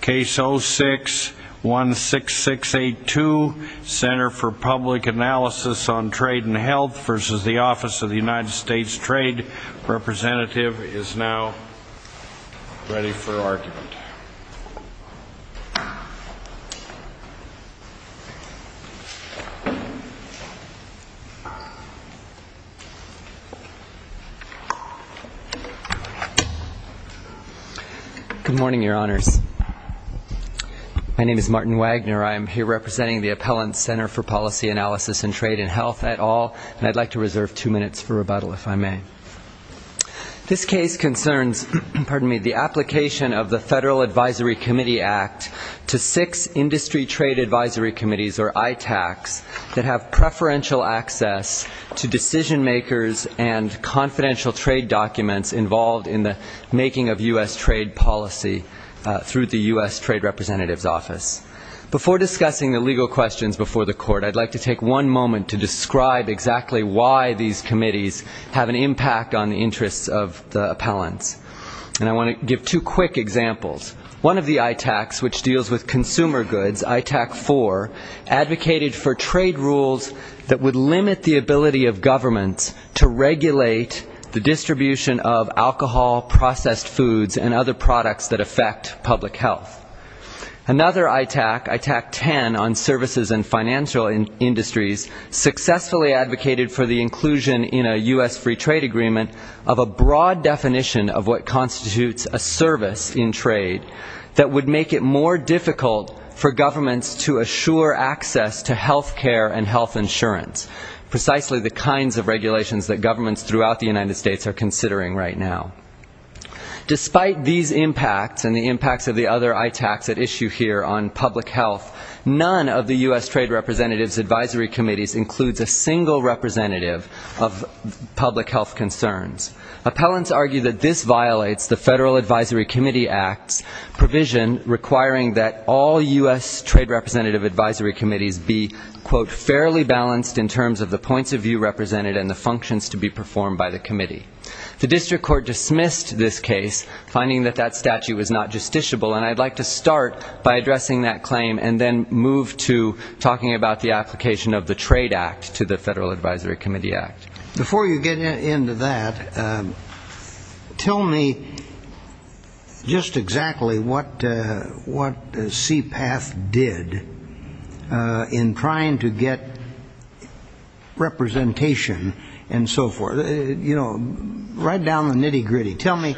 Case 06-16682, Center for Public Analysis on Trade and Health v. Office of the United States Department of Commerce and the United States Department of Commerce and the United States Department of Commerce. My name is Martin Wagner. I am here representing the Appellant Center for Policy Analysis and Trade and Health et al. and I'd like to reserve two minutes for rebuttal if I may. This case concerns the application of the Federal Advisory Committee Act to six industry trade advisory committees, or ITACs, that have preferential access to decision-makers and confidential trade documents involved in the making of U.S. trade policy through the U.S. Trade Representative's Office. Before discussing the legal questions before the Court, I'd like to take one moment to describe exactly why these committees have an impact on the interests of the appellants. And I want to give two quick examples. One of the ITACs, which deals with consumer goods, ITAC 4, advocated for trade rules that would limit the ability of governments to regulate the distribution of alcohol, processed foods, and other products that affect public health. Another ITAC, ITAC 10, on services and financial industries, successfully advocated for the inclusion in a U.S. free trade agreement of a broad definition of what constitutes a service in trade that would make it more difficult for governments to assure access to health care and health insurance, precisely the kinds of regulations that governments throughout the United States are considering right now. Despite these impacts and the impacts of the other ITACs at issue here on public health, none of the U.S. Trade Representative's advisory committees includes a single representative of public health concerns. Appellants argue that this violates the Federal Advisory Committee Act's provision requiring that all U.S. Trade Representative advisory committees be, quote, fairly balanced in terms of the points of view represented and the functions to be performed by the committee. The district court dismissed this case, finding that that statute was not justiciable. And I'd like to start by addressing that claim and then move to talking about the application of the Trade Act to the Federal Advisory Committee Act. Before you get into that, tell me just exactly what CPATH did in trying to get representation and so forth. You know, right down the nitty gritty. Tell me,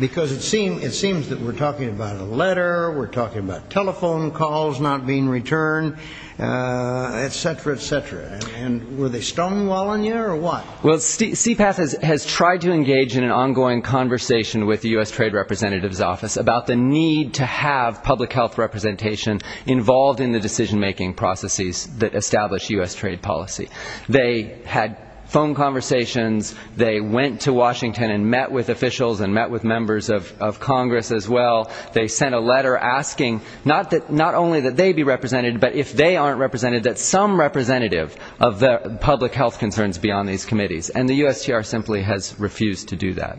because it seems that we're talking about a letter, we're talking about telephone calls not being returned, et cetera, et cetera. And were they stonewalling you or what? Well, CPATH has tried to engage in an ongoing conversation with the U.S. Trade Representative's office about the need to have public health representation involved in the decision-making processes that establish U.S. trade policy. They had phone conversations. They went to Washington and met with officials and met with members of Congress as well. They sent a letter asking not only that they be represented, but if they aren't represented, that some representative of the public health concerns be on these committees. And the USTR simply has refused to do that.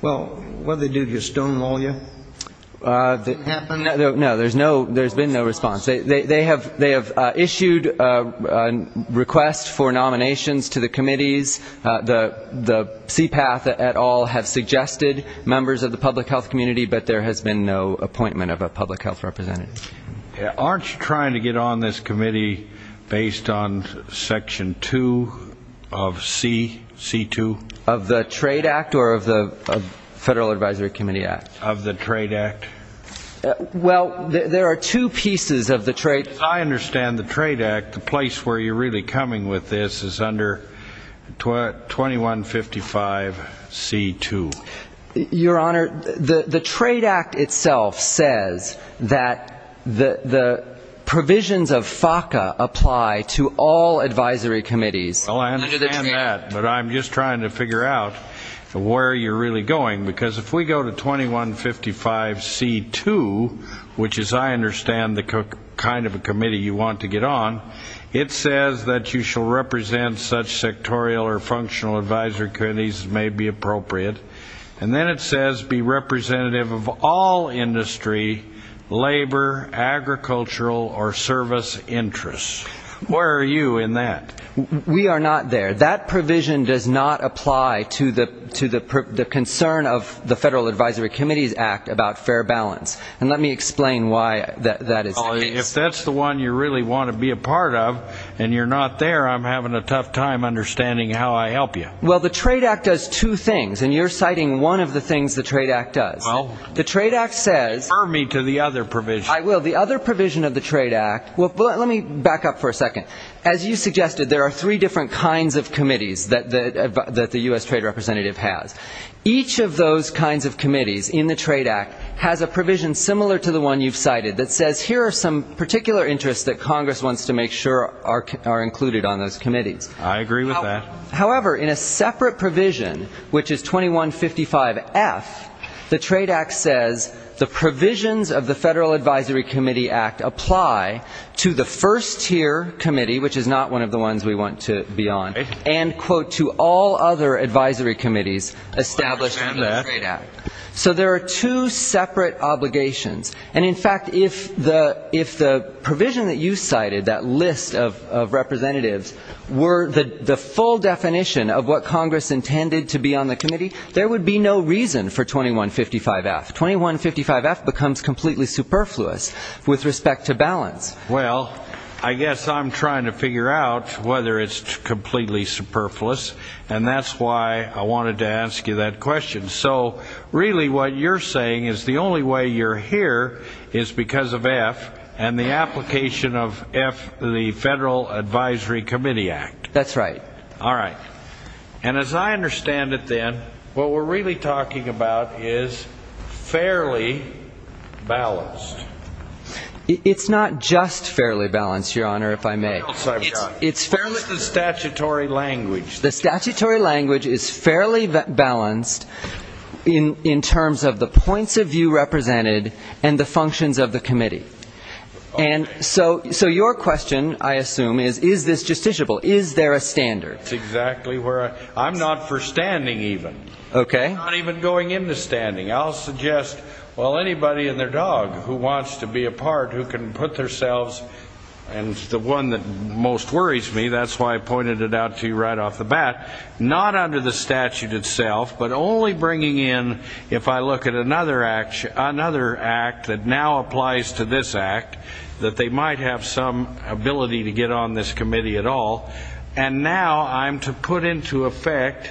Well, what did they do to stonewall you? No, there's been no response. They have issued requests for nominations to the committees. The CPATH et al. have suggested members of the public health community, but there has been no appointment of a public health representative. Aren't you trying to get on this committee based on Section 2 of C, C-2? Of the Trade Act or of the Federal Advisory Committee Act? Of the Trade Act. Well, there are two pieces of the Trade Act. I understand the Trade Act. The place where you're really coming with this is under 2155 C-2. Your Honor, the Trade Act itself says that the provisions of FACA apply to all advisory committees. Well, I understand that, but I'm just trying to figure out where you're really going. Because if we go to 2155 C-2, which is, I understand, the kind of a committee you want to get on, it says that you shall represent such sectorial or functional advisory committees as may be appropriate. And then it says be representative of all industry, labor, agricultural or service interests. Where are you in that? We are not there. That provision does not apply to the concern of the Federal Advisory Committee Act about fair balance. And let me explain why that is the case. If that's the one you really want to be a part of, and you're not there, I'm having a tough time understanding how I help you. Well, the Trade Act does two things, and you're citing one of the things the Trade Act does. The Trade Act says... Refer me to the other provision. I will. The other provision of the Trade Act, well, let me back up for a second. As you suggested, there are three different kinds of committees that the U.S. Trade Representative has. Each of those kinds of committees in the Trade Act has a provision similar to the one you've cited that says here are some particular interests that Congress wants to make sure are included on those committees. I agree with that. However, in a separate provision, which is 2155F, the Trade Act says the provisions of the Federal Advisory Committee Act apply to the first-tier committee, which is not one of the ones we want to be on, and, quote, to all other advisory committees established under the Trade Act. So there are two separate obligations. And in fact, if the provision that you cited, that list of representatives, were the full definition of what Congress intended to be on the committee, there would be no reason for 2155F. 2155F becomes completely superfluous with respect to balance. Well, I guess I'm trying to figure out whether it's completely superfluous, and that's why I wanted to ask you that question. So really what you're saying is the only way you're here is because of F, and the application of F, the Federal Advisory Committee Act. That's right. All right. And as I understand it, then, what we're really talking about is fairly balanced. It's not just fairly balanced, Your Honor, if I may. It's fairly balanced. What else have you got? It's the statutory language. The statutory language is fairly balanced in terms of the points of view represented and the functions of the committee. And so your question, I assume, is, is this justiciable? Is there a standard? That's exactly where I... I'm not for standing, even. Okay. I'm not even going into standing. I'll suggest, well, anybody and their dog who wants to be a part, who can put their selves, and the one that most worries me, that's why I pointed it out to you right off the bat, not under the statute itself, but only bringing in, if I look at another act that now applies to this act, that they might have some ability to get on this committee at all. And now I'm to put into effect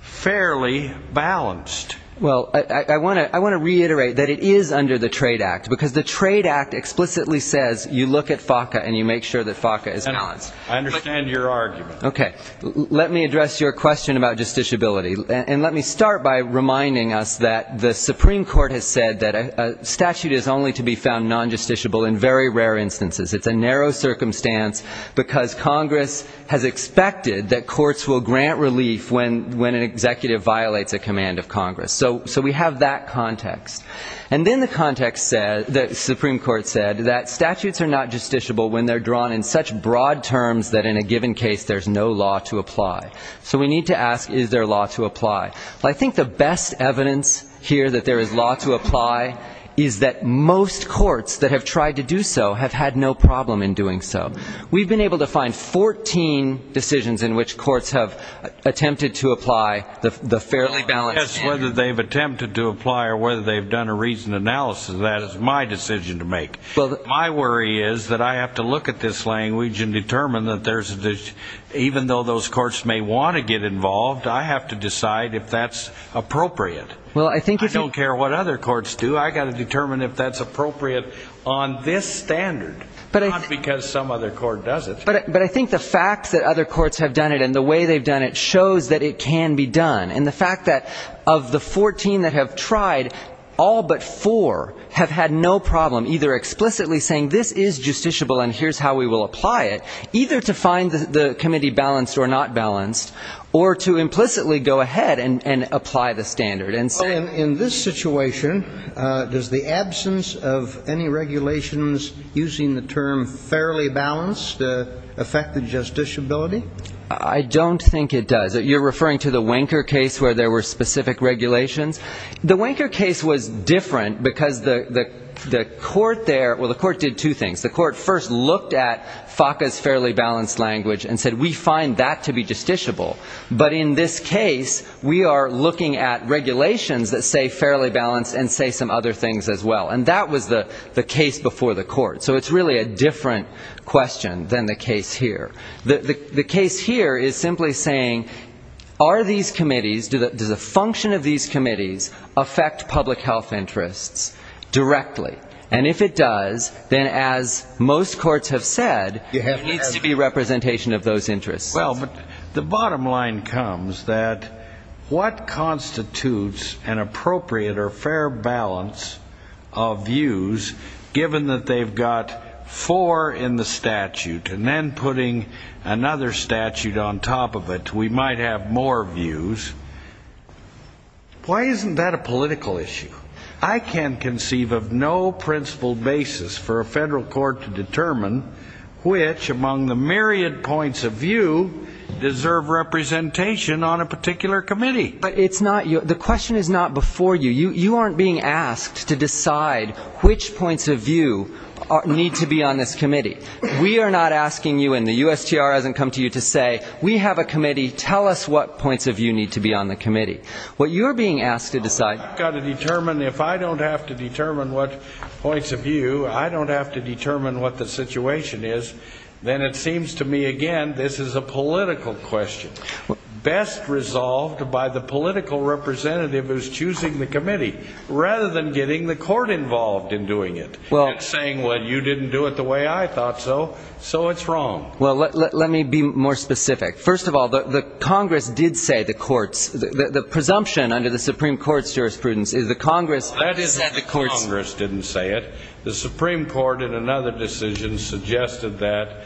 fairly balanced. Well, I want to reiterate that it is under the Trade Act, because the Trade Act explicitly says you look at FACA and you make sure that FACA is balanced. I understand your argument. Okay. Let me address your question about justiciability. And let me start by reminding us that the Supreme Court has said that a statute is only to be found non-justiciable in very rare instances. It's a narrow circumstance, because Congress has expected that courts will grant relief when an executive violates a command of Congress. So we have that context. And then the context said, the Supreme Court said, that statutes are not justiciable when they're drawn in such broad terms that in a given case there's no law to apply. So we need to ask, is there law to apply? Well, I think the best evidence here that there is law to apply is that most courts that have tried to do so have had no problem in doing so. We've been able to find 14 decisions in which courts have attempted to apply the fairly balanced. I guess whether they've attempted to apply or whether they've done a reasoned analysis of that is my decision to make. My worry is that I have to look at this language and determine that there's, even though those courts may want to get involved, I have to decide if that's appropriate. I don't care what other courts do. I've got to determine if that's appropriate on this standard, not because some other court does it. But I think the facts that other courts have done it and the way they've done it shows that it can be done. And the fact that of the 14 that have tried, all but four have had no problem either explicitly saying this is justiciable and here's how we will apply it, either to find the committee balanced or not balanced, or to implicitly go ahead and apply the standard and say In this situation, does the absence of any regulations using the term fairly balanced affect the justiciability? I don't think it does. You're referring to the Wenker case where there were specific regulations. The Wenker case was different because the court there, well the court did two things. The court first looked at FACA's fairly balanced language and said we find that to be justiciable. But in this case, we are looking at regulations that say fairly balanced and say some other things as well. And that was the case before the court. So it's really a different question than the case here. The case here is simply saying are these committees, does the function of these committees affect public health interests directly? And if it does, then as most courts have said, it needs to be a representation of those interests. The bottom line comes that what constitutes an appropriate or fair balance of views given that they've got four in the statute and then putting another statute on top of it, we might have more views, why isn't that a political issue? I can conceive of no principled basis for a federal court to determine which among the myriad points of view deserve representation on a particular committee. It's not, the question is not before you. You aren't being asked to decide which points of view need to be on this committee. We are not asking you, and the USTR hasn't come to you to say, we have a committee, tell us what points of view need to be on the committee. What you're being asked to decide I've got to determine, if I don't have to determine what points of view, I don't have to determine what the situation is, then it seems to me, again, this is a political question. Best resolved by the political representative who's choosing the committee rather than getting the court involved in doing it and saying, well, you didn't do it the way I thought so, so it's wrong. Well, let me be more specific. First of all, the Congress did say the courts, the presumption under the Supreme Court's jurisprudence is the Congress said the courts Congress didn't say it. The Supreme Court in another decision suggested that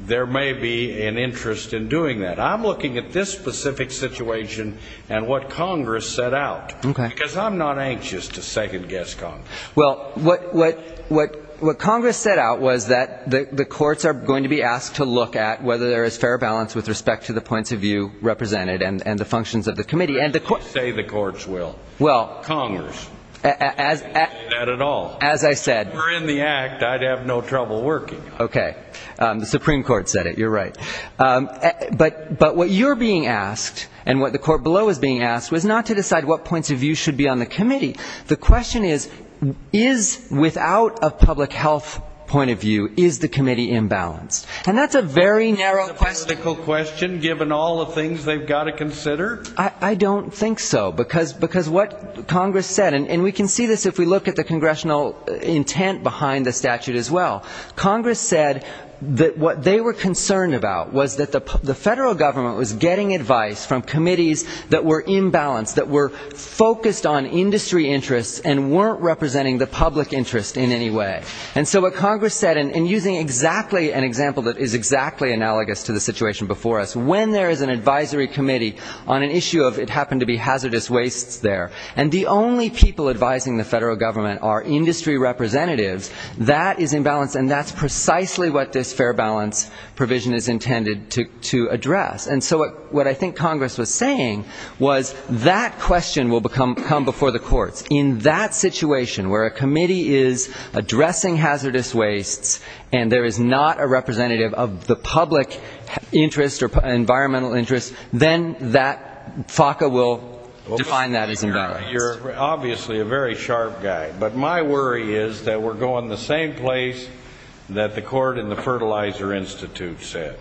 there may be an interest in doing that. And I'm looking at this specific situation and what Congress set out, because I'm not anxious to second-guess Congress. Well, what Congress set out was that the courts are going to be asked to look at whether there is fair balance with respect to the points of view represented and the functions of the committee. And the courts They say the courts will. Congress. They didn't say that at all. As I said If it were in the act, I'd have no trouble working on it. Okay. The Supreme Court said it. You're right. But but what you're being asked and what the court below is being asked was not to decide what points of view should be on the committee. The question is, is without a public health point of view, is the committee imbalanced? And that's a very narrow question, given all the things they've got to consider. I don't think so, because because what Congress said, and we can see this if we look at the congressional intent behind the statute as well, Congress said that what they were concerned about was that the federal government was getting advice from committees that were imbalanced, that were focused on industry interests and weren't representing the public interest in any way. And so what Congress said, and using exactly an example that is exactly analogous to the situation before us, when there is an advisory committee on an issue of it happened to be hazardous wastes there and the only people advising the federal government are industry representatives, that is imbalanced. And that's precisely what this fair balance provision is intended to to address. And so what I think Congress was saying was that question will become come before the courts in that situation where a committee is addressing hazardous wastes and there is not a representative of the public interest or environmental interest, then that FACA will define that as you're obviously a very sharp guy. But my worry is that we're going the same place that the court in the Fertilizer Institute said.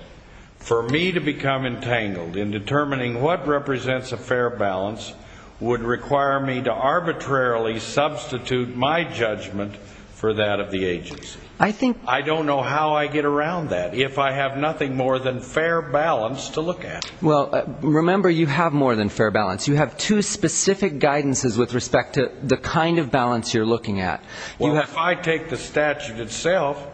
For me to become entangled in determining what represents a fair balance would require me to arbitrarily substitute my judgment for that of the agency. I think I don't know how I get around that if I have nothing more than fair balance to look at. Well, remember, you have more than fair balance. You have two specific guidances with respect to the kind of balance you're looking at. Well, if I take the statute itself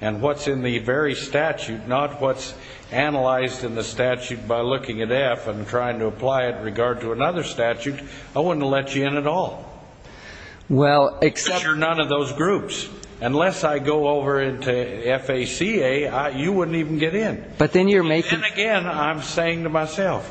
and what's in the very statute, not what's analyzed in the statute by looking at F and trying to apply it in regard to another statute, I wouldn't let you in at all. Well, except you're none of those groups. Unless I go over into FACA, you wouldn't even get in. But then you're making again, I'm saying to myself,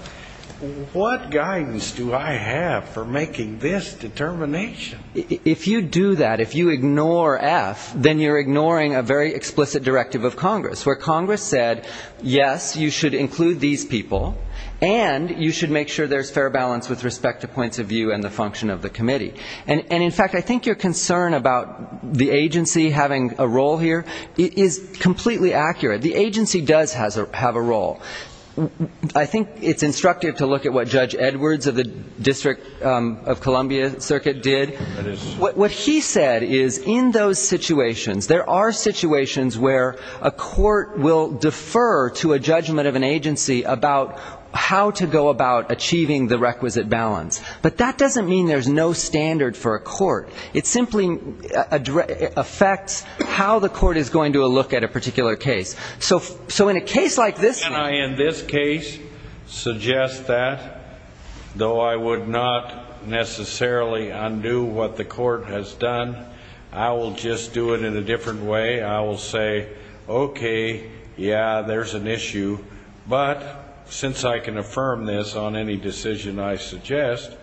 what guidance do I have for making this determination? If you do that, if you ignore F, then you're ignoring a very explicit directive of Congress where Congress said, yes, you should include these people and you should make sure there's fair balance with respect to points of view and the function of the committee. And in fact, I think your concern about the agency having a role here is completely accurate. The agency does have a role. I think it's instructive to look at what Judge Edwards of the District of Columbia Circuit did. What he said is in those situations, there are situations where a court will defer to a judgment of an agency about how to go about achieving the requisite balance. But that doesn't mean there's no standard for a court. It simply affects how the court is going to look at a particular case. So so in a case like this, and I in this case suggest that, though, I would not necessarily undo what the court has done. I will just do it in a different way. I will say, OK, yeah, there's an issue. But since I can affirm this on any decision, I suggest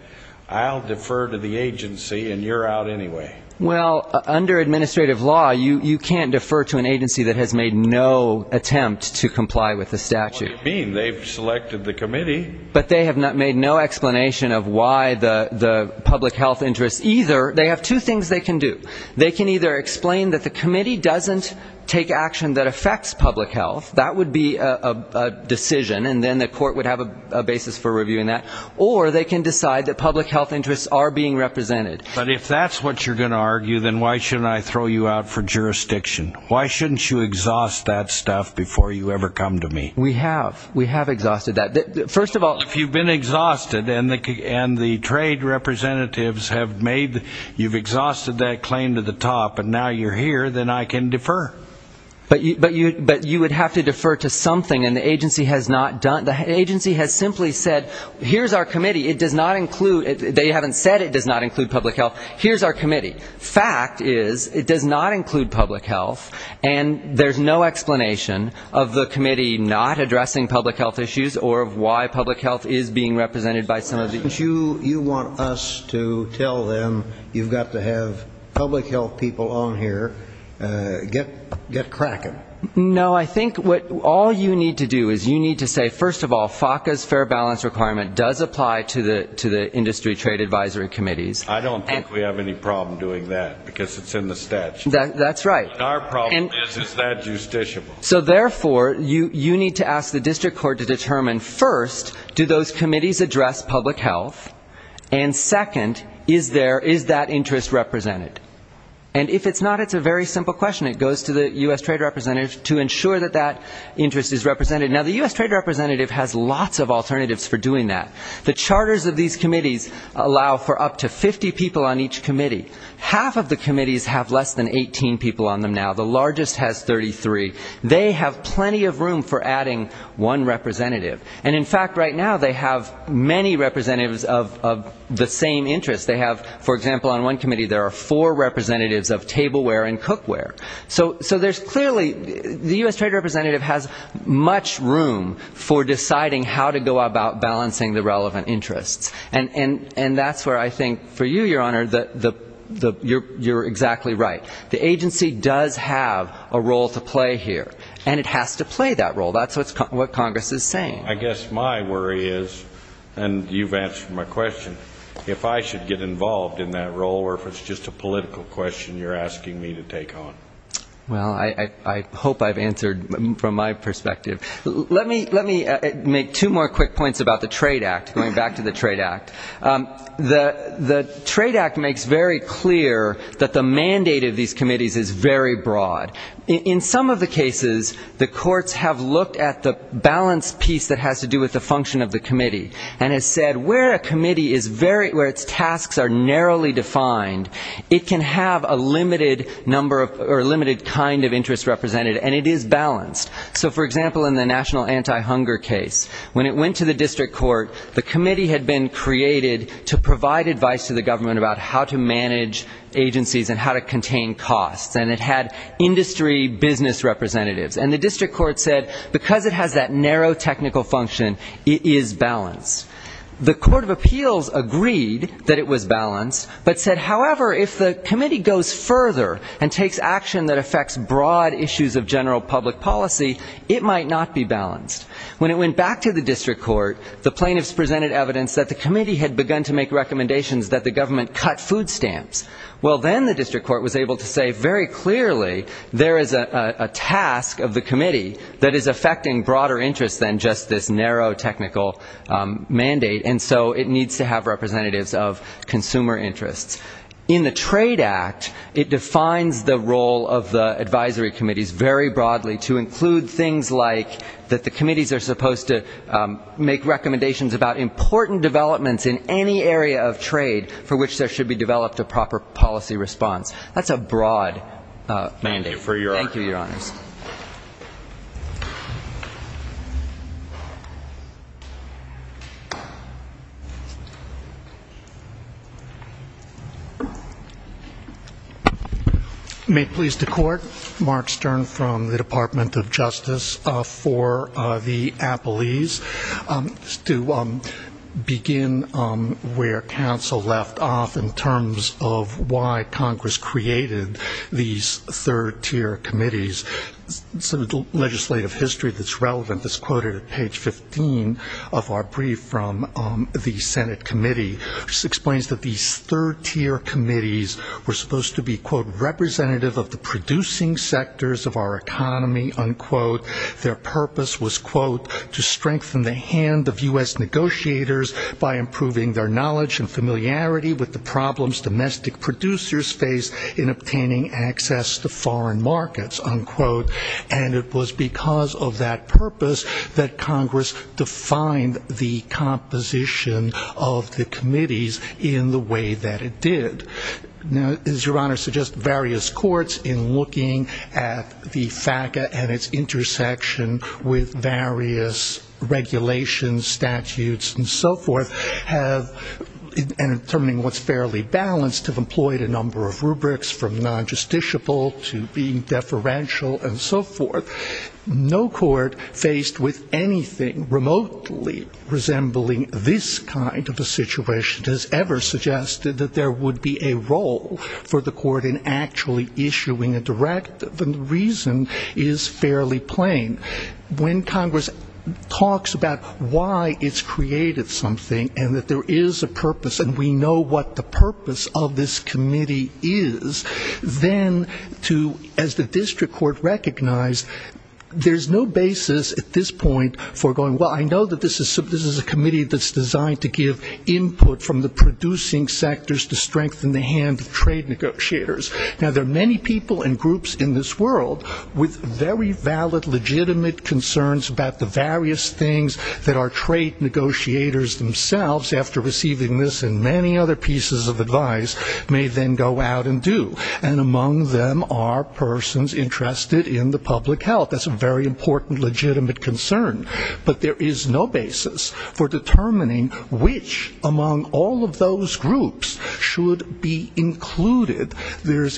I'll defer to the agency and you're out anyway. Well, under administrative law, you can't defer to an agency that has made no attempt to comply with the statute being they've selected the committee, but they have not made no explanation of why the public health interests either. They have two things they can do. They can either explain that the committee doesn't take action that affects public health. That would be a decision. And then the court would have a basis for reviewing that. Or they can decide that public health interests are being represented. But if that's what you're going to argue, then why shouldn't I throw you out for jurisdiction? Why shouldn't you exhaust that stuff before you ever come to me? We have we have exhausted that. First of all, if you've been exhausted and the and the trade representatives have made you've exhausted that claim to the top and now you're here, then I can defer. But but you but you would have to defer to something. And the agency has not done the agency has simply said, here's our committee. It does not include they haven't said it does not include public health. Here's our committee. Fact is, it does not include public health. And there's no explanation of the committee not addressing public health issues or of why public health is being represented by some of the you. You want us to tell them you've got to have public health people on here. Get get cracking. No, I think what all you need to do is you need to say, first of all, FACA's fair balance requirement does apply to the to the industry trade advisory committees. I don't think we have any problem doing that because it's in the statute. That's right. Our problem is, is that justiciable? So therefore, you you need to ask the district court to determine, first, do those committees address public health? And second, is there is that interest represented? And if it's not, it's a very simple question. It goes to the U.S. trade representatives to ensure that that interest is represented. Now, the U.S. trade representative has lots of alternatives for doing that. The charters of these committees allow for up to 50 people on each committee. Half of the committees have less than 18 people on them. Now, the largest has 33. They have plenty of room for adding one representative. And in fact, right now, they have many representatives of the same interest. They have, for example, on one committee, there are four representatives of tableware and cookware. So so there's clearly the U.S. trade representative has much room for deciding how to go about balancing the relevant interests. And and that's where I think for you, your honor, that the you're exactly right. The agency does have a role to play here and it has to play that role. That's what Congress is saying. I guess my worry is and you've answered my question, if I should get involved in that role or if it's just a political question you're asking me to take on. Well, I hope I've answered from my perspective. Let me let me make two more quick points about the Trade Act. Going back to the Trade Act, the the Trade Act makes very clear that the mandate of these committees is very broad. In some of the cases, the courts have looked at the balance piece that has to do with the function of the committee and has said where a committee is very where its tasks are narrowly defined. It can have a limited number or limited kind of interest represented and it is balanced. So, for example, in the national anti-hunger case, when it went to the district court, the committee had been created to provide advice to the government about how to manage agencies and how to contain costs. And it had industry business representatives. And the district court said because it has that narrow technical function, it is balanced. The Court of Appeals agreed that it was balanced, but said, however, if the committee goes further and takes action that affects broad issues of general public policy, it might not be balanced. When it went back to the district court, the plaintiffs presented evidence that the committee had begun to make recommendations that the government cut food stamps. Well, then the district court was able to say very clearly there is a task of the committee that is affecting broader interests than just this narrow technical mandate. And so it needs to have representatives of consumer interests. In the Trade Act, it defines the role of the advisory committees very broadly to include things like that the committees are supposed to make recommendations about important developments in any area of trade for which there should be developed a proper policy response. That's a broad mandate. Thank you, Your Honors. May it please the Court. Mark Stern from the Department of Justice for the Appellees. To begin where counsel left off in terms of why Congress created these third-tier committees, some of the legislative history that's relevant is quoted at page 15 of our brief from the Senate committee, which explains that these third-tier committees were supposed to be, quote, representative of the producing sectors of our economy, unquote. Their purpose was, quote, to strengthen the hand of U.S. negotiators by improving their knowledge and familiarity with the foreign markets, unquote. And it was because of that purpose that Congress defined the composition of the committees in the way that it did. Now, as Your Honor suggests, various courts in looking at the FACA and its intersection with various regulations, statutes, and so forth have, in determining what's fairly balanced, have employed a number of rubrics from non-justiciable to being deferential and so forth. No court faced with anything remotely resembling this kind of a situation has ever suggested that there would be a role for the court in actually issuing a directive. And the reason is fairly plain. When Congress talks about why it's created something and that there is a purpose and we know what the purpose of this committee is, then to, as the district court recognized, there's no basis at this point for going, well, I know that this is a committee that's designed to give input from the producing sectors to strengthen the hand of trade negotiators. Now, there are many people and groups in this world with very valid, legitimate concerns about the various things that are trade negotiators themselves, after receiving this and many other pieces of advice, may then go out and do. And among them are persons interested in the public health. That's a very important, legitimate concern. But there is no basis for determining which among all of those groups should be included.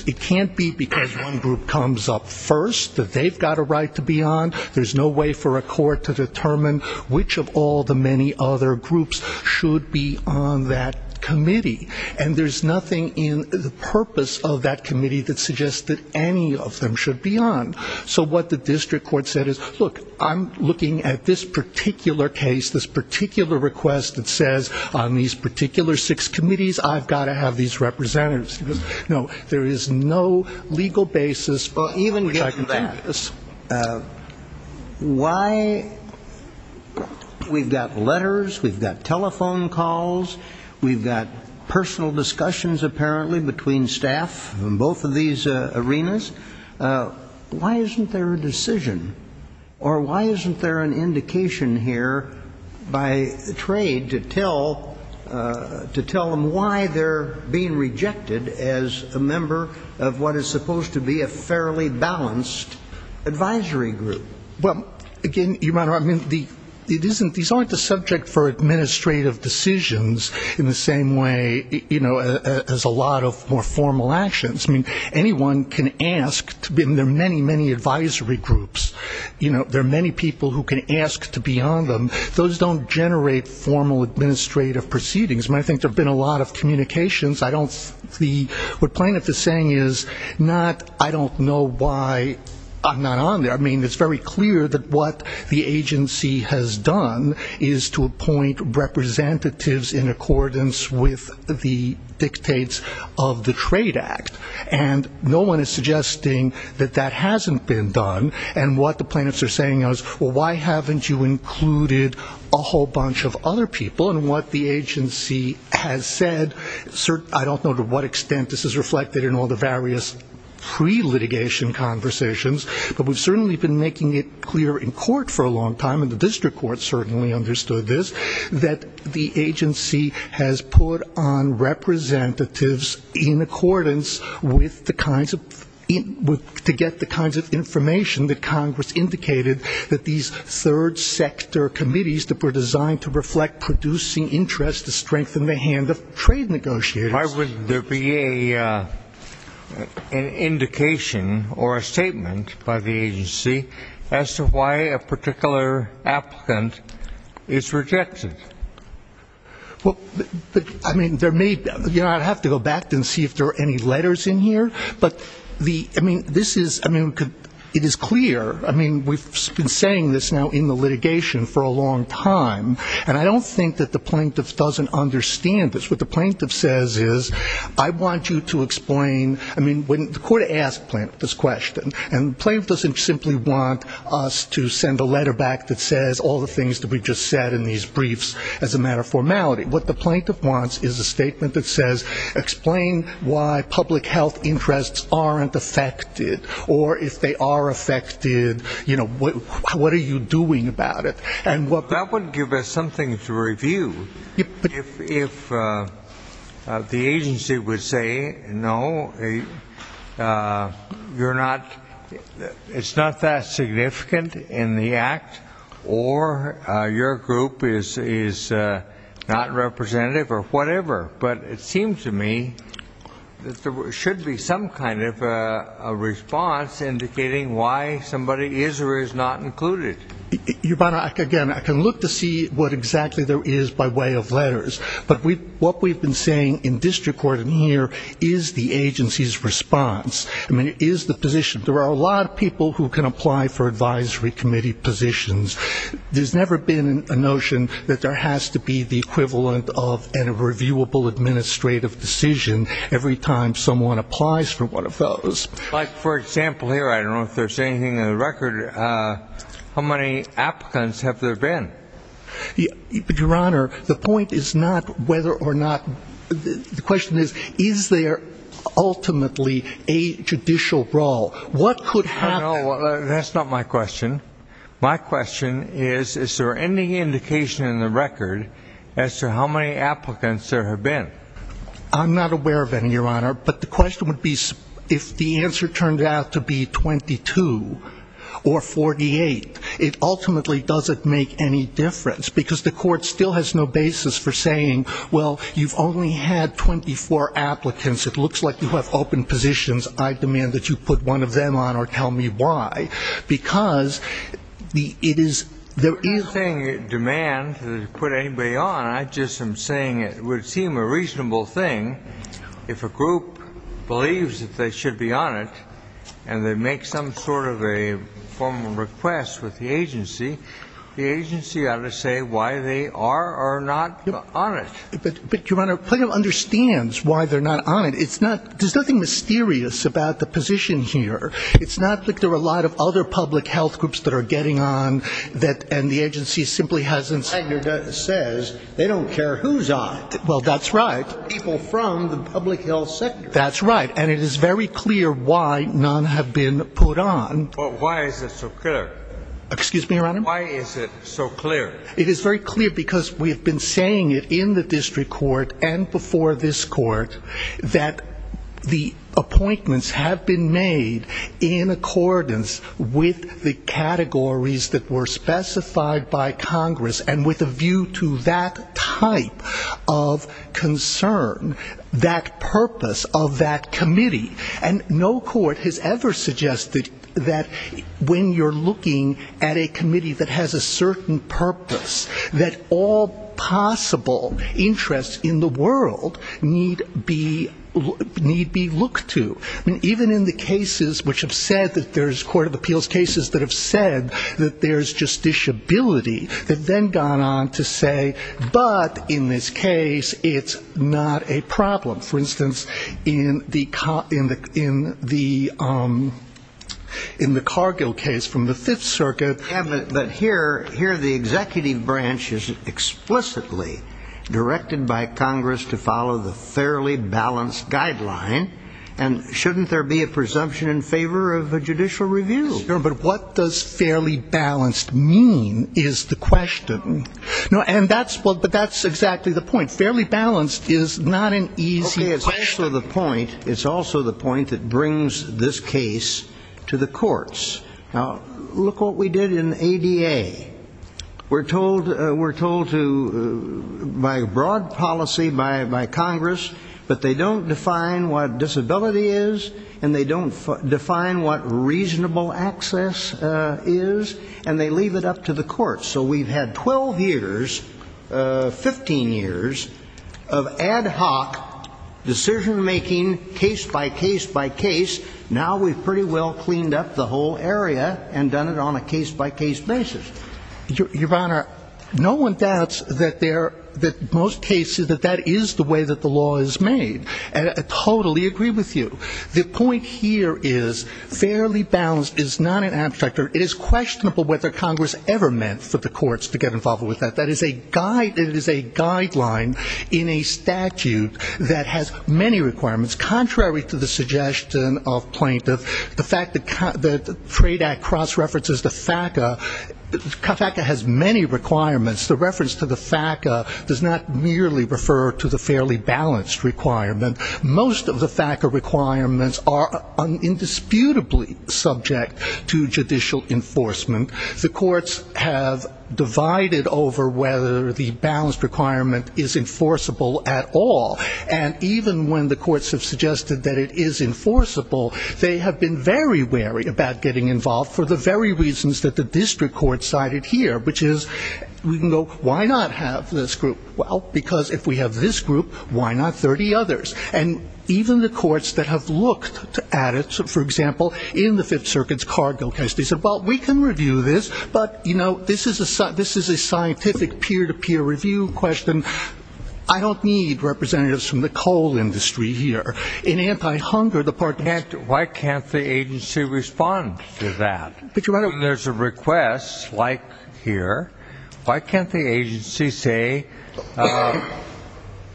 It can't be because one group comes up first that they've got a right to be on. There's no way for a court to determine which of all the many other groups should be on that committee. And there's nothing in the purpose of that committee that suggests that any of them should be on. So what the district court said is, look, I'm looking at this particular case, this particular request that says on these particular six committees, I've got to have these representatives. No, there is no legal basis for even getting that. Why we've got letters, we've got telephone calls, we've got personal discussions, apparently, between staff in both of these arenas. Why isn't there a decision? Or why isn't there an indication here by trade to tell them why they're being rejected as a member of what is supposed to be a fairly balanced advisory group? Well, again, Your Honor, I mean, these aren't the subject for administrative decisions in the same way, you know, as a lot of more formal actions. I mean, anyone can ask. There are many, many advisory groups. There are many people who can ask to be on them. Those don't generate formal administrative proceedings. I think there have been a lot of communications. What plaintiff is saying is, I don't know why I'm not on there. I mean, it's very clear that what the agency has done is to appoint representatives in accordance with the dictates of the Trade Act. And no one is suggesting that that hasn't been done. And what the agency has said, I don't know to what extent this is reflected in all the various pre-litigation conversations, but we've certainly been making it clear in court for a long time, and the district court certainly understood this, that the agency has put on representatives in accordance with the kinds of to get the information that Congress indicated that these third sector committees that were designed to reflect producing interest to strengthen the hand of trade negotiators. Why would there be an indication or a statement by the agency as to why a particular applicant is rejected? Well, I mean, there may be, you know, I'd have to go back and see if there are any letters in here, but the, I mean, this is, I mean, it is clear, I mean, we've been saying this now in the litigation for a long time, and I don't think that the plaintiff doesn't understand this. What the plaintiff says is, I want you to explain, I mean, the court asked plaintiff this question, and the plaintiff doesn't simply want us to send a letter back that says all the things that we've just said in these briefs as a matter of formality. What the why public health interests aren't affected, or if they are affected, you know, what are you doing about it? That would give us something to review. If the agency would say, no, you're not, it's not that significant in the act, or your group is not representative or whatever, but it seems to me that there should be some kind of a response indicating why somebody is or is not included. Your Honor, again, I can look to see what exactly there is by way of letters, but what we've been saying in district court in here is the agency's response. I mean, it is the position. There are a lot of people who can apply for advisory committee positions. There's never been a notion that there has to be the kind of reviewable administrative decision every time someone applies for one of those. Like, for example, here, I don't know if there's anything in the record, how many applicants have there been? Your Honor, the point is not whether or not the question is, is there ultimately a judicial role? What could happen? No, that's not my question. My question is, is there any indication in the record as to how many applicants there have been? I'm not aware of any, Your Honor. But the question would be, if the answer turned out to be 22 or 48, it ultimately doesn't make any difference, because the court still has no basis for saying, well, you've only had 24 applicants. It looks like you have open positions. I demand that you put one of them on or tell me why. Because it is ‑‑ I'm not saying demand to put anybody on. I just am saying it would seem a reasonable thing if a group believes that they should be on it and they make some sort of a formal request with the agency, the agency ought to say why they are or are not on it. But, Your Honor, Plano understands why they're not on it. It's not ‑‑ there's nothing mysterious about the position here. It's not like there are a lot of other public health groups that are getting on and the agency simply hasn't ‑‑ Wagner says they don't care who's on it. Well, that's right. People from the public health sector. That's right. And it is very clear why none have been put on. Well, why is it so clear? Excuse me, Your Honor? Why is it so clear? It is very clear because we have been saying it in the district court and before this court that the appointments have been made in accordance with the categories that were specified by Congress and with a view to that type of concern, that purpose of that committee, and no court has ever suggested that when you're looking at a committee that has a certain purpose that all possible interests in the world need be looked to. I mean, even in the cases which have said that there's court of appeals cases that have said that there's just disability that then gone on to say, but in this case it's not a problem. For instance, in the Cargill case from the Fifth Circuit. But here the executive branch is explicitly directed by Congress to follow the fairly balanced guideline, and shouldn't there be a presumption in favor of a judicial review? No, but what does fairly balanced mean is the question. And that's exactly the point. Fairly balanced is not an easy question. Okay, it's also the point that brings this case to the courts. Now, look what we did in ADA. We're told by broad policy by Congress that they don't define what disability is, and they don't define what reasonable access is, and they leave it up to the courts. So we've had 12 years, 15 years, of ad hoc decision-making, case by case by case. Now we've pretty well cleaned up the whole area and done it on a case-by-case basis. Your Honor, no one doubts that most cases that that is the way that the law is made. I totally agree with you. The point here is fairly balanced is not an abstract. It is questionable whether the suggestion of plaintiff, the fact that the Trade Act cross-references the FACA, the FACA has many requirements. The reference to the FACA does not merely refer to the fairly balanced requirement. Most of the FACA requirements are indisputably subject to judicial enforcement. The courts have divided over whether the balanced requirement is enforceable at all, and even when the courts have suggested that it is enforceable, they have been very wary about getting involved for the very reasons that the district court cited here, which is we can go, why not have this group? Well, because if we have this group, why not 30 others? And even the courts that have looked at it, for example, in the Fifth Circuit's cargo case, they said, well, we can review this, but you know, this is a scientific peer-to-peer review question. I don't need representatives from the coal industry here in anti-hunger. Why can't the agency respond to that? When there's a request like here, why can't the agency say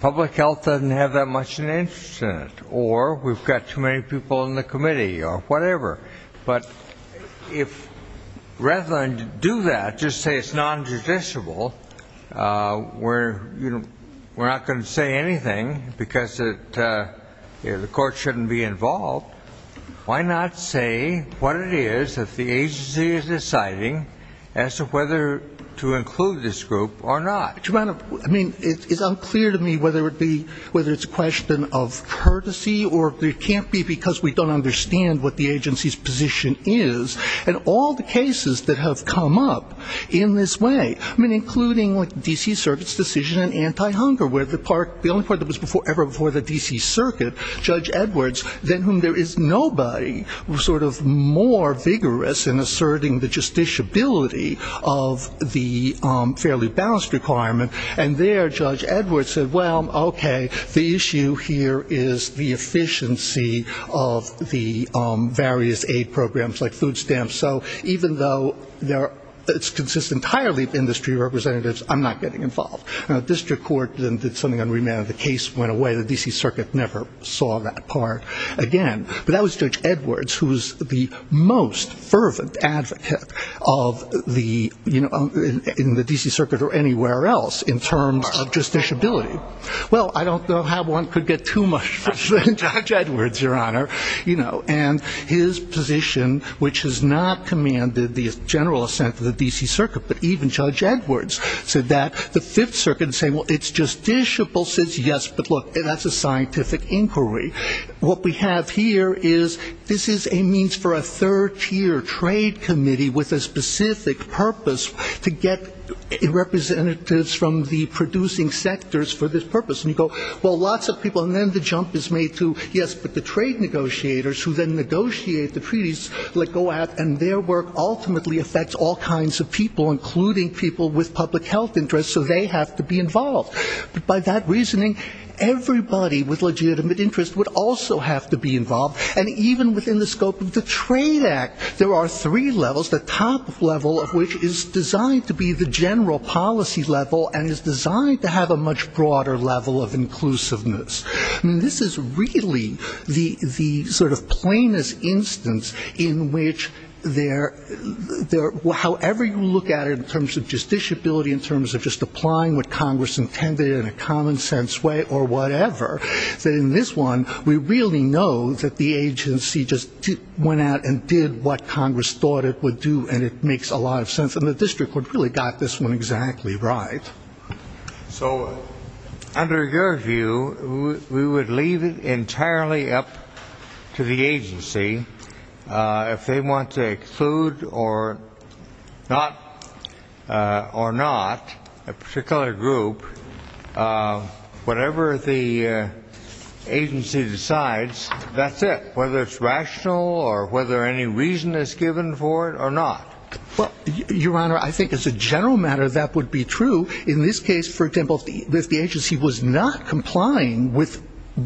public health doesn't have that much of an interest in it, or we've got too many people in the committee, or whatever? But if rather than do that, just say it's nonjudiciable, we're not going to say anything, because the courts shouldn't be involved, why not say what it is that the agency is deciding as to whether to include this group or not? I mean, it's unclear to me whether it's a question of courtesy or it can't be because we don't understand what the agency's position is. And all the cases that have come up in this way, I mean, including D.C. Circuit's decision in anti-hunger, where the only court that was ever before the D.C. Circuit, Judge Edwards, than whom there is nobody, sort of more vigorous in asserting the justiciability of the fairly balanced requirement, and there Judge Edwards said, well, okay, the issue here is the efficiency of the various aid programs like food stamps, so even though it consists entirely of industry representatives, I'm not getting involved. The district court did something unremitting, the case went away, the D.C. Circuit never saw that part again. But that was Judge Edwards, who was the most fervent advocate in the D.C. Circuit or anywhere else in terms of justiciability. Well, I don't know how one could get too much from Judge Edwards, Your Honor. And his position, which has not commanded the general assent of the D.C. Circuit, but even Judge Edwards said that. The Fifth Circuit said, well, it's justiciable, says yes, but look, that's a scientific inquiry. What we have here is this is a means for a third tier trade committee with a specific purpose to get representatives from the producing sectors for this purpose. And you go, well, lots of people, and then the jump is made to, yes, but the trade negotiators who then negotiate the treaties go out and their work ultimately affects all kinds of people, including people with public health interests, so they have to be involved. By that reasoning, everybody with legitimate interests gets involved. So it's a general policy level and is designed to have a much broader level of inclusiveness. I mean, this is really the sort of plainest instance in which there, however you look at it in terms of justiciability, in terms of just applying what Congress intended in a common sense way or whatever, that in this one, we really know that the agency just went out and did what Congress thought it would do, and it makes a lot of sense. And the district court really got this one exactly right. So under your view, we would leave it entirely up to the agency. If they want to exclude or not, or not a particular group, whatever the agency decides, that's it, whether it's rational or whether any reason is given for it or not. Well, Your Honor, I think as a general matter, that would be true. In this case, for example, if the agency was not complying with,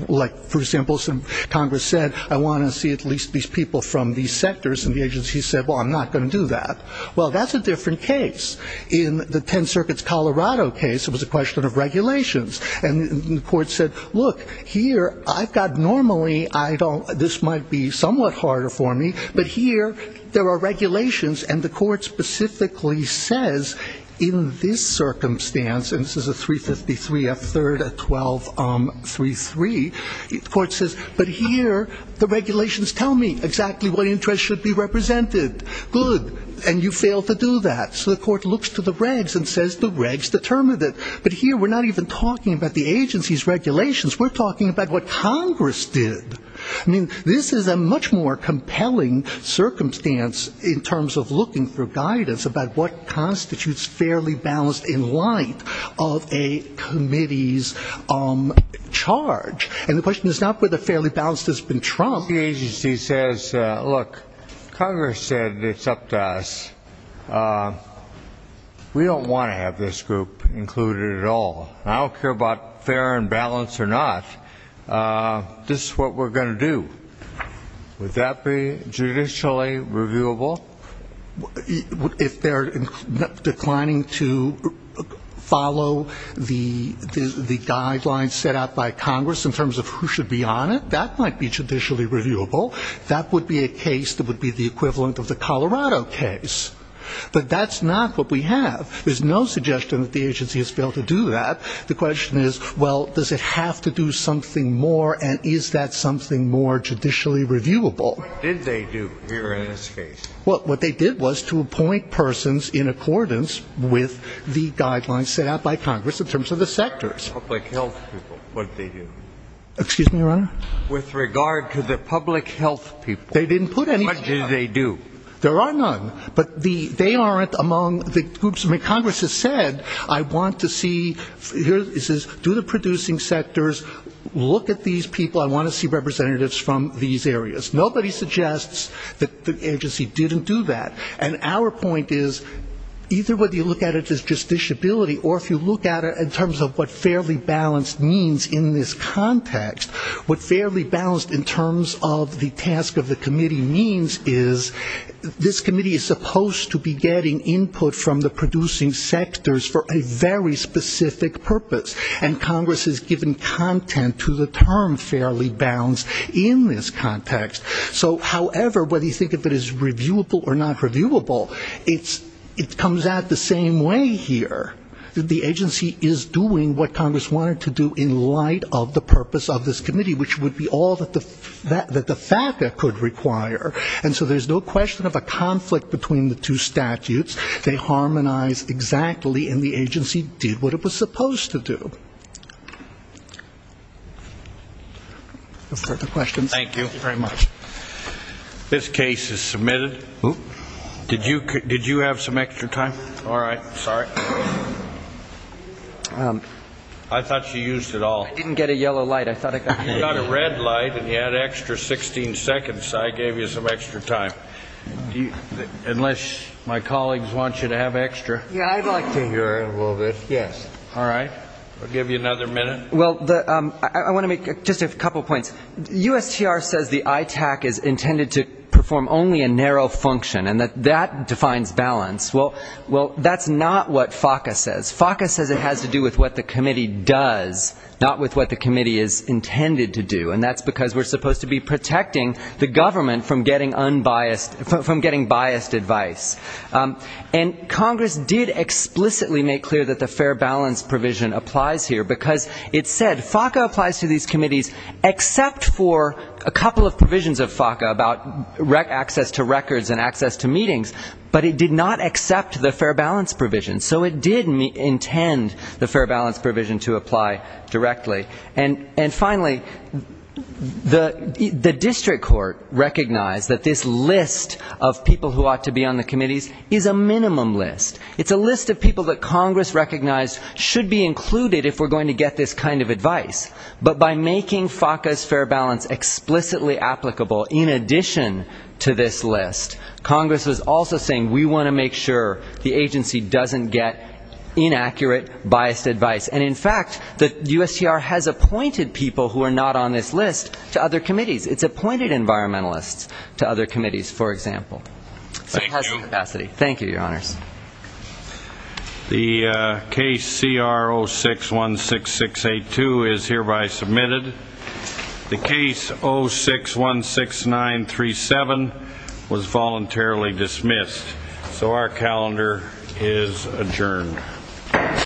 like, for example, some Congress said, I want to see at least these people from these sectors, and the agency said, well, I'm not going to do that, well, that's a different case. In the Ten Circuits Colorado case, it was a question of regulations, and the court said, look, here, I've got normally, I don't, this might be somewhat harder for me, but here there are regulations, and the court specifically says in this circumstance, and this is a 353, a third, a 1233, the court says, but here the regulations tell me exactly what interest should be represented, good, and you fail to do that, so the court looks to the regs and says the regs determined it, but here we're not even talking about the agency's regulations, we're talking about what Congress did. I mean, this is a much more compelling circumstance in terms of looking for guidance about what constitutes fairly balanced in light of a committee's charge, and the question is not whether fairly balanced has been trumped. The agency says, look, Congress said it's up to us. We don't want to have this group included at all, and I don't care about fair and balanced or not, this is what we're going to do. Would that be judicially reviewable? If they're declining to follow the guidelines set out by Congress in terms of who should be on it, that might be judicially reviewable. That would be a case that would be the equivalent of the Colorado case. But that's not what we have. There's no suggestion that the agency has failed to do that. The question is, well, does it have to do something more, and is that something more judicially reviewable? What did they do here in this case? Well, what they did was to appoint persons in accordance with the guidelines set out by Congress in terms of the sectors. With regard to the public health people, what did they do? There are none, but they aren't among the groups. I mean, Congress has said, I want to see do the producing sectors, look at these people, I want to see representatives from these areas. Nobody suggests that the agency didn't do that. And our point is, either whether you look at it as just disability or if you look at it in terms of what fairly balanced means in this context, what fairly balanced in terms of the task of the committee means is this committee is supposed to be getting input from the producing sectors for a very specific purpose. And Congress has given content to the term fairly balanced in this context. So, however, whether you think of it as reviewable or not reviewable, it comes out the same way here. The agency is doing what Congress wanted to do in light of the purpose of this committee, which would be all that the FACA could require. And so there's no question of a conflict between the two statutes. They harmonize exactly, and the agency did what it was supposed to do. No further questions? Thank you very much. This case is submitted. Did you have some extra time? All right. Sorry. I thought you used it all. I didn't get a yellow light. You got a red light and you had extra 16 seconds, so I gave you some extra time. Unless my colleagues want you to have extra. Yeah, I'd like to hear a little bit. Yes. All right. I'll give you another minute. Well, I want to make just a couple of points. USTR says the ITAC is intended to perform only a narrow function and that that defines balance. Well, that's not what FACA says. FACA says it has to do with what the committee does, not with what the committee is intended to do. And that's because we're supposed to be protecting the government from getting unbiased, from getting biased advice. And Congress did explicitly make clear that the fair balance provision applies here, because it said FACA applies to these committees except for a couple of provisions of FACA about access to records and access to meetings, but it did not accept the fair balance provision. So it did intend the fair balance provision to apply directly. And finally, the district court recognized that this list of people who ought to be on the committees is a minimum list. It's a list of people that Congress recognized should be included if we're going to get this kind of advice. But by making FACA's fair balance explicitly applicable in addition to this list, Congress was also saying we want to make sure the agency doesn't get inaccurate, biased advice. And in fact, the USTR has appointed people who are not on this list to other committees. It's appointed environmentalists to other committees, for example. So it has the capacity. Thank you, Your Honors. The case CR 0616682 is hereby submitted. The case 0616937 was voluntarily dismissed. So our calendar is adjourned.